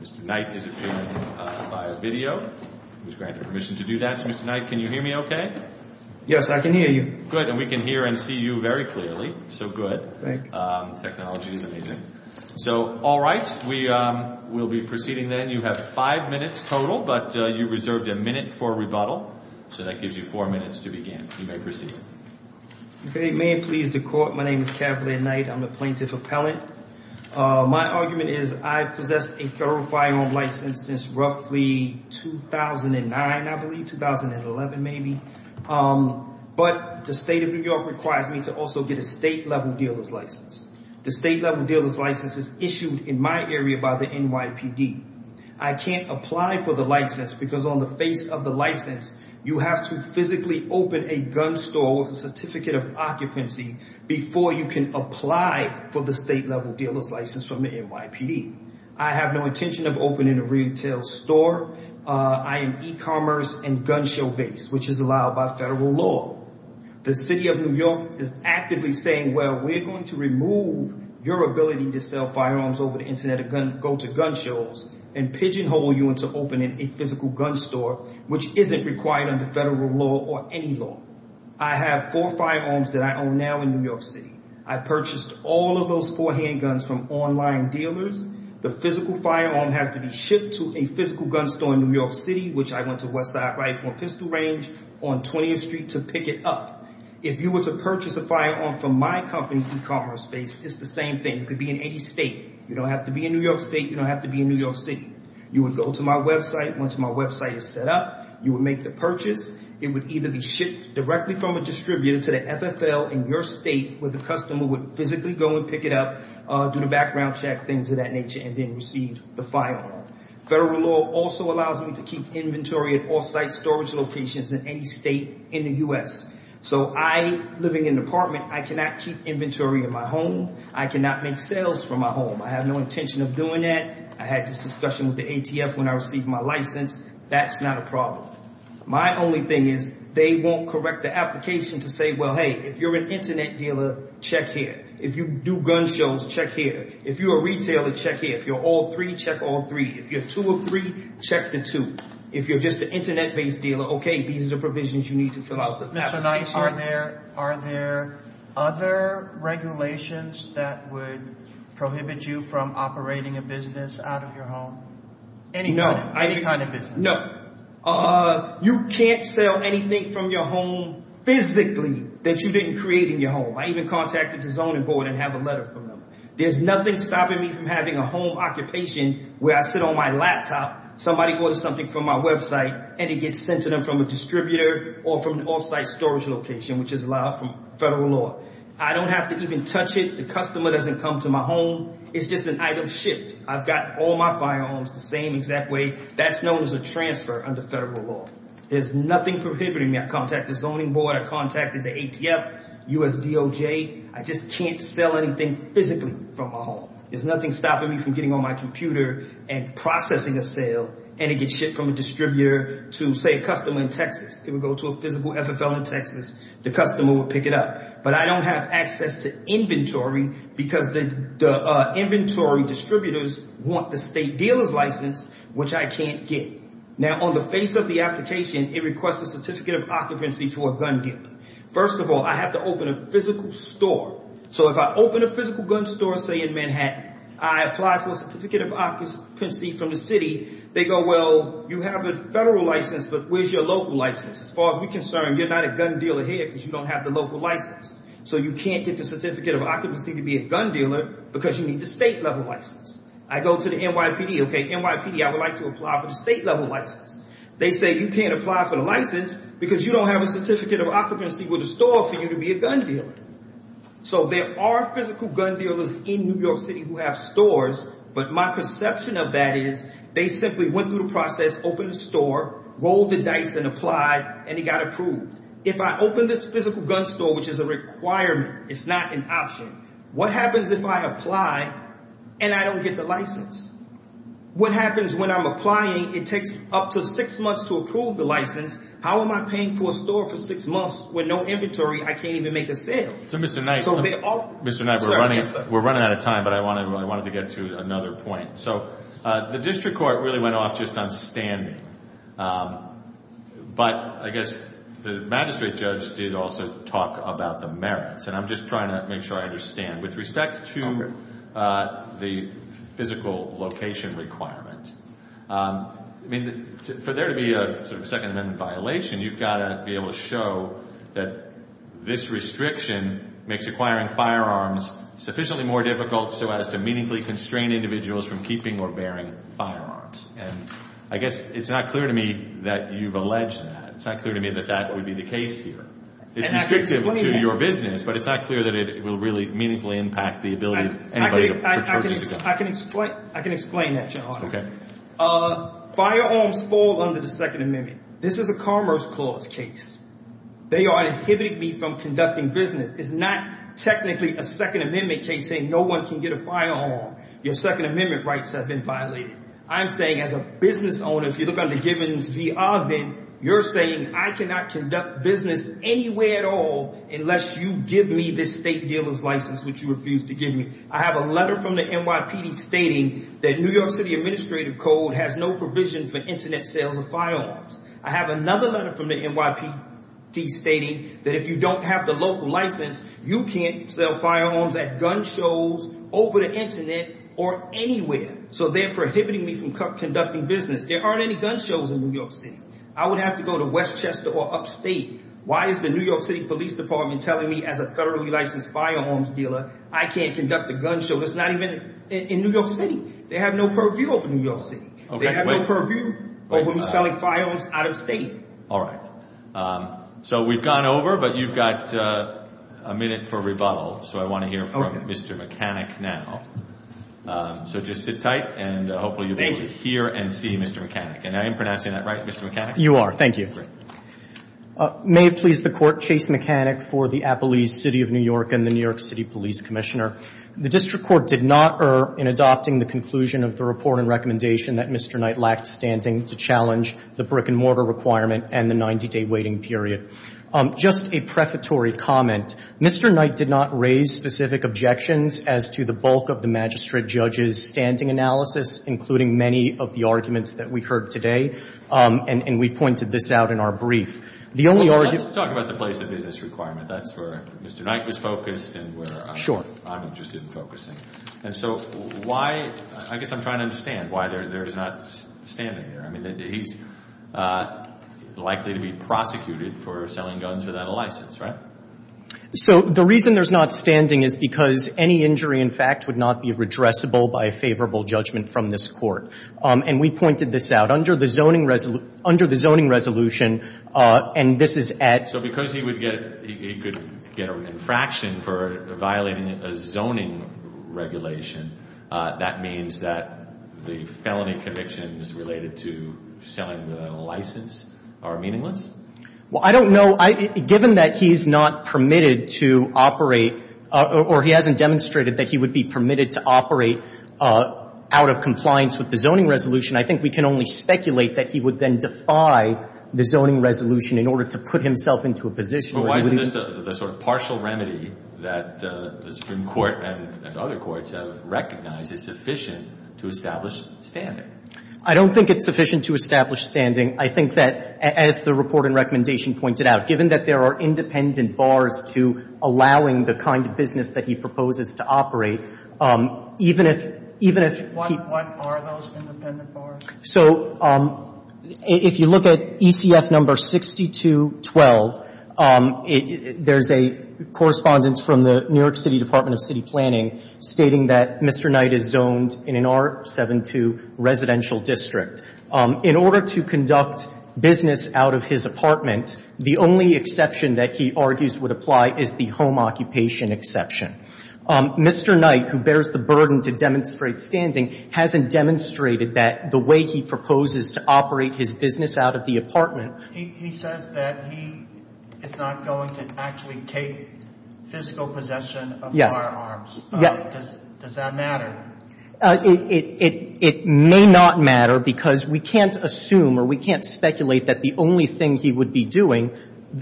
Mr. Knight is appearing via video. He is granted permission to do that. Mr. Knight, can you hear me okay? Yes, I can hear you. Good, and we can hear and see you very clearly. So good. Thank you. The technology is amazing. Thank you. We'll be proceeding then. You have five minutes total, but you reserved a minute for rebuttal. So that gives you four minutes to begin. You may proceed. May it please the Court, my name is Kathleen Knight. I'm a plaintiff appellant. My argument is I've possessed a federal firearm license since roughly 2009, I believe, 2011 maybe. But the state of New York requires me to also get a state-level dealer's license. The state-level dealer's license is issued in my area by the NYPD. I can't apply for the license because on the face of the license, you have to physically open a gun store with a certificate of occupancy before you can apply for the state-level dealer's license from the NYPD. I have no intention of opening a retail store. I am e-commerce and gun show based, which is allowed by federal law. The city of New York is actively saying, well, we're going to remove your ability to sell firearms over the Internet and go to gun shows and pigeonhole you into opening a physical gun store, which isn't required under federal law or any law. I have four firearms that I own now in New York City. I purchased all of those four handguns from online dealers. The physical firearm has to be shipped to a physical gun store in New York City, which I went to Westside Rifle and Pistol Range on 20th Street to pick it up. If you were to purchase a firearm from my company, e-commerce based, it's the same thing. It could be in any state. You don't have to be in New York State. You don't have to be in New York City. You would go to my website. Once my website is set up, you would make the purchase. It would either be shipped directly from a distributor to the FFL in your state where the customer would physically go and pick it up, do the background check, things of that nature, and then receive the firearm. Federal law also allows me to keep inventory at off-site storage locations in any state in the U.S. So I, living in an apartment, I cannot keep inventory in my home. I cannot make sales from my home. I have no intention of doing that. I had this discussion with the ATF when I received my license. That's not a problem. My only thing is they won't correct the application to say, well, hey, if you're an internet dealer, check here. If you do gun shows, check here. If you're a retailer, check here. If you're all three, check all three. If you're two or three, check the two. If you're just an internet-based dealer, okay, these are the provisions you need to fill out the application. Mr. Knight, are there other regulations that would prohibit you from operating a business out of your home? No. Any kind of business? No. You can't sell anything from your home physically that you didn't create in your home. I even contacted the zoning board and have a letter from them. There's nothing stopping me from having a home occupation where I sit on my laptop, somebody orders something from my website, and it gets sent to them from a distributor or from an off-site storage location, which is allowed by federal law. I don't have to even touch it. The customer doesn't come to my home. It's just an item shipped. I've got all my firearms the same exact way. That's known as a transfer under federal law. There's nothing prohibiting me. I contacted the zoning board. I contacted the ATF, USDOJ. I just can't sell anything physically from my home. There's nothing stopping me from getting on my computer and processing a sale, and it gets shipped from a distributor to, say, a customer in Texas. It would go to a physical FFL in Texas. The customer would pick it up. But I don't have access to inventory because the inventory distributors want the state dealer's license, which I can't get. Now, on the face of the application, it requests a certificate of occupancy for a gun dealer. First of all, I have to open a physical store. So if I open a physical gun store, say, in Manhattan, I apply for a certificate of occupancy from the city. They go, well, you have a federal license, but where's your local license? As far as we're concerned, you're not a gun dealer here because you don't have the local license. So you can't get the certificate of occupancy to be a gun dealer because you need the state-level license. I go to the NYPD. Okay, NYPD, I would like to apply for the state-level license. They say you can't apply for the license because you don't have a certificate of occupancy with the store for you to be a gun dealer. So there are physical gun dealers in New York City who have stores, but my perception of that is they simply went through the process, opened the store, rolled the dice, and applied, and it got approved. If I open this physical gun store, which is a requirement, it's not an option, what happens if I apply and I don't get the license? What happens when I'm applying, it takes up to six months to approve the license. How am I paying for a store for six months with no inventory? I can't even make a sale. So Mr. Knight, we're running out of time, but I wanted to get to another point. So the district court really went off just on standing, but I guess the magistrate judge did also talk about the merits, and I'm just trying to make sure I understand. With respect to the physical location requirement, for there to be a Second Amendment violation, you've got to be able to show that this restriction makes acquiring firearms sufficiently more difficult so as to meaningfully constrain individuals from keeping or bearing firearms. I guess it's not clear to me that you've alleged that. It's not clear to me that that would be the case here. It's restrictive to your business, but it's not clear that it will really meaningfully impact the ability of anybody to purchase a gun. I can explain that, Your Honor. Okay. Firearms fall under the Second Amendment. This is a Commerce Clause case. They are inhibiting me from conducting business. It's not technically a Second Amendment case saying no one can get a firearm. Your Second Amendment rights have been violated. I'm saying as a business owner, if you look under Givens v. Ogden, you're saying I cannot conduct business anywhere at all unless you give me this state dealer's license, which you refuse to give me. I have a letter from the NYPD stating that New York City Administrative Code has no provision for Internet sales of firearms. I have another letter from the NYPD stating that if you don't have the local license, you can't sell firearms at gun shows, over the Internet, or anywhere. So they're prohibiting me from conducting business. There aren't any gun shows in New York City. I would have to go to Westchester or upstate. Why is the New York City Police Department telling me as a federally licensed firearms dealer I can't conduct a gun show? It's not even in New York City. They have no purview over New York City. They have no purview over me selling firearms out of state. All right. So we've gone over, but you've got a minute for rebuttal. So I want to hear from Mr. Mechanic now. So just sit tight, and hopefully you'll be able to hear and see Mr. Mechanic. And I am pronouncing that right, Mr. Mechanic? You are. Thank you. May it please the Court, Chase Mechanic for the Appalese City of New York and the New York City Police Commissioner. The district court did not err in adopting the conclusion of the report and recommendation that Mr. Knight lacked standing to challenge the brick-and-mortar requirement and the 90-day waiting period. Just a prefatory comment. Mr. Knight did not raise specific objections as to the bulk of the magistrate judge's standing analysis, including many of the arguments that we heard today, and we pointed this out in our brief. Let's talk about the place of business requirement. That's where Mr. Knight was focused and where I'm interested in focusing. And so why – I guess I'm trying to understand why there is not standing there. I mean, he's likely to be prosecuted for selling guns without a license, right? So the reason there's not standing is because any injury, in fact, would not be redressable by a favorable judgment from this court. And we pointed this out. Under the zoning resolution, and this is at – So because he would get – he could get an infraction for violating a zoning regulation, that means that the felony convictions related to selling without a license are meaningless? Well, I don't know. Given that he's not permitted to operate, or he hasn't demonstrated that he would be permitted to operate out of compliance with the zoning resolution, I think we can only speculate that he would then defy the zoning resolution in order to put himself into a position. But why isn't this the sort of partial remedy that the Supreme Court and other courts have recognized is sufficient to establish standing? I don't think it's sufficient to establish standing. I think that, as the report and recommendation pointed out, given that there are independent bars to allowing the kind of business that he proposes to operate, even if – even if he – What are those independent bars? So if you look at ECF number 6212, there's a correspondence from the New York City Department of City Planning stating that Mr. Knight is zoned in an R-72 residential district. In order to conduct business out of his apartment, the only exception that he argues would apply is the home occupation exception. Mr. Knight, who bears the burden to demonstrate standing, hasn't demonstrated that the way he proposes to operate his business out of the apartment He says that he is not going to actually take physical possession of firearms. Does that matter? It may not matter because we can't assume or we can't speculate that the only thing he would be doing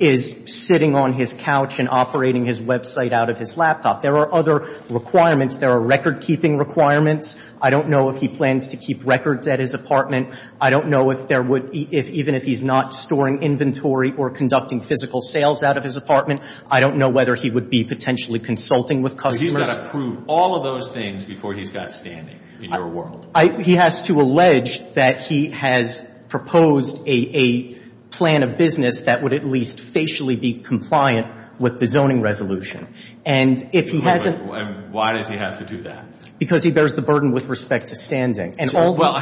is sitting on his couch and operating his website out of his laptop. There are other requirements. There are recordkeeping requirements. I don't know if he plans to keep records at his apartment. I don't know if there would – even if he's not storing inventory or conducting physical sales out of his apartment, I don't know whether he would be potentially consulting with customers. But he's got to prove all of those things before he's got standing in your world. He has to allege that he has proposed a plan of business that would at least facially be compliant with the zoning resolution. And if he hasn't – Why does he have to do that? Because he bears the burden with respect to standing. Well,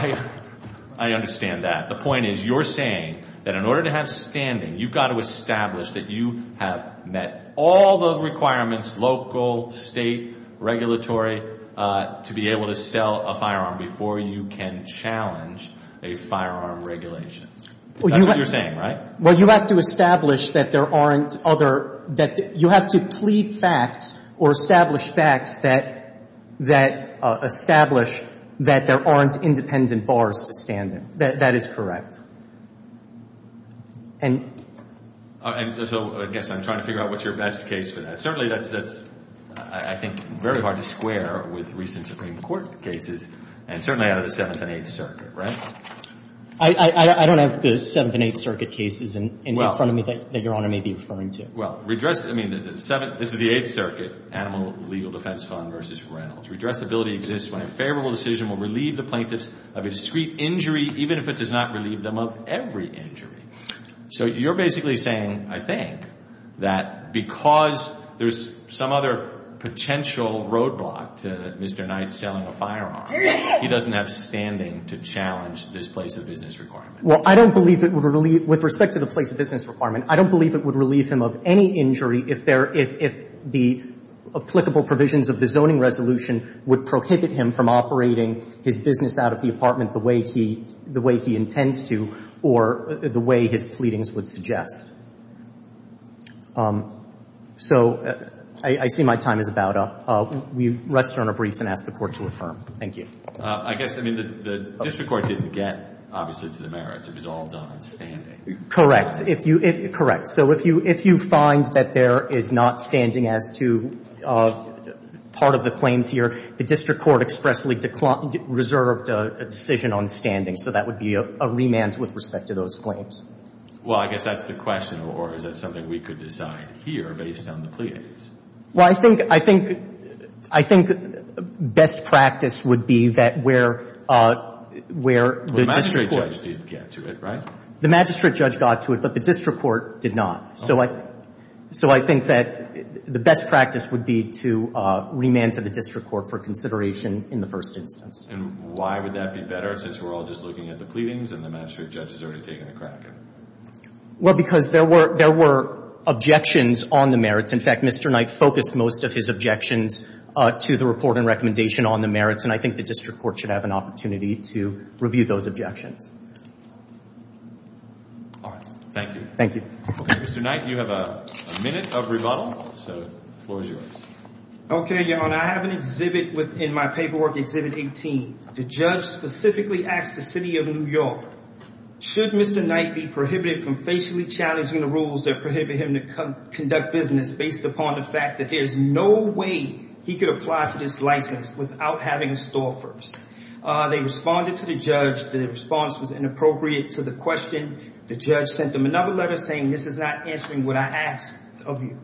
I understand that. The point is you're saying that in order to have standing, you've got to establish that you have met all the requirements, local, State, regulatory, to be able to sell a firearm before you can challenge a firearm regulation. That's what you're saying, right? Well, you have to establish that there aren't other – that you have to plead facts or establish facts that establish that there aren't independent bars to stand in. That is correct. And – So I guess I'm trying to figure out what's your best case for that. Certainly that's, I think, very hard to square with recent Supreme Court cases and certainly out of the Seventh and Eighth Circuit, right? I don't have the Seventh and Eighth Circuit cases in front of me that Your Honor may be referring to. Well, redress – I mean, this is the Eighth Circuit, Animal Legal Defense Fund v. Reynolds. Redressability exists when a favorable decision will relieve the plaintiffs of a discreet injury, even if it does not relieve them of every injury. So you're basically saying, I think, that because there's some other potential roadblock to Mr. Knight selling a firearm, he doesn't have standing to challenge this place-of-business requirement. Well, I don't believe it would relieve – with respect to the place-of-business requirement, I don't believe it would relieve him of any injury if there – if the applicable provisions of the zoning resolution would prohibit him from operating his business out of the apartment the way he – the way he intends to or the way his pleadings would suggest. So I see my time is about up. We rest on our briefs and ask the Court to affirm. Thank you. I guess – I mean, the district court didn't get, obviously, to the merits. It was all done on standing. Correct. If you – correct. So if you – if you find that there is not standing as to part of the claims here, the district court expressly reserved a decision on standing. So that would be a remand with respect to those claims. Well, I guess that's the question, or is that something we could decide here based on the pleadings? Well, I think – I think – I think best practice would be that where the district court – Well, the magistrate judge did get to it, right? The magistrate judge got to it, but the district court did not. So I – so I think that the best practice would be to remand to the district court for consideration in the first instance. And why would that be better, since we're all just looking at the pleadings and the magistrate judge has already taken a crack at it? Well, because there were – there were objections on the merits. In fact, Mr. Knight focused most of his objections to the report and recommendation on the merits, and I think the district court should have an opportunity to review those objections. All right. Thank you. Thank you. Mr. Knight, you have a minute of rebuttal. So the floor is yours. Okay, Your Honor. I have an exhibit within my paperwork, Exhibit 18. The judge specifically asked the city of New York, should Mr. Knight be prohibited from facially challenging the rules that prohibit him to conduct business based upon the fact that there's no way he could apply for this license without having a store first? They responded to the judge. The response was inappropriate to the question. The judge sent them another letter saying this is not answering what I asked of you.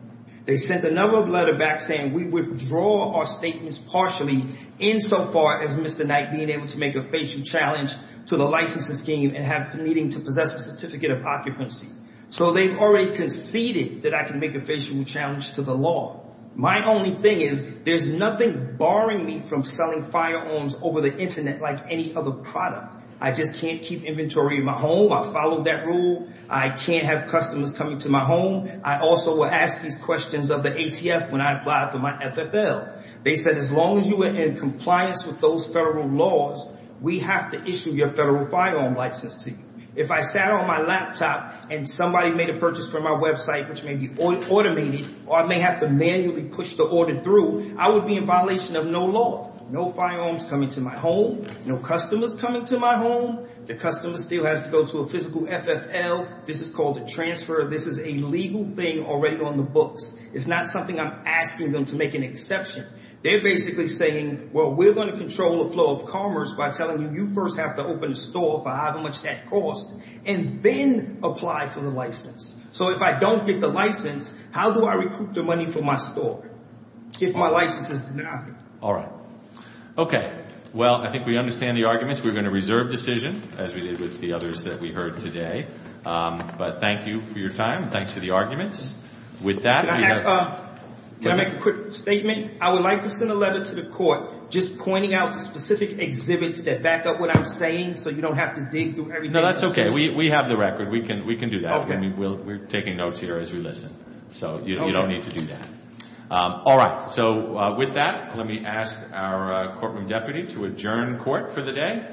They sent another letter back saying we withdraw our statements partially, insofar as Mr. Knight being able to make a facial challenge to the licensing scheme and needing to possess a certificate of occupancy. So they've already conceded that I can make a facial challenge to the law. My only thing is there's nothing barring me from selling firearms over the Internet like any other product. I just can't keep inventory in my home. I follow that rule. I can't have customers coming to my home. I also will ask these questions of the ATF when I apply for my FFL. They said as long as you are in compliance with those federal laws, we have to issue your federal firearm license to you. If I sat on my laptop and somebody made a purchase from my website which may be automated or I may have to manually push the order through, I would be in violation of no law. No firearms coming to my home. No customers coming to my home. The customer still has to go to a physical FFL. This is called a transfer. This is a legal thing already on the books. It's not something I'm asking them to make an exception. They're basically saying, well, we're going to control the flow of commerce by telling you you first have to open a store for however much that costs and then apply for the license. So if I don't get the license, how do I recruit the money for my store if my license is denied? All right. Okay. Well, I think we understand the arguments. We're going to reserve decision as we did with the others that we heard today. But thank you for your time. Thanks for the arguments. With that, we have- Can I make a quick statement? I would like to send a letter to the court just pointing out the specific exhibits that back up what I'm saying so you don't have to dig through everything. No, that's okay. We have the record. We can do that. We're taking notes here as we listen. So you don't need to do that. All right. So with that, let me ask our courtroom deputy to adjourn court for the day.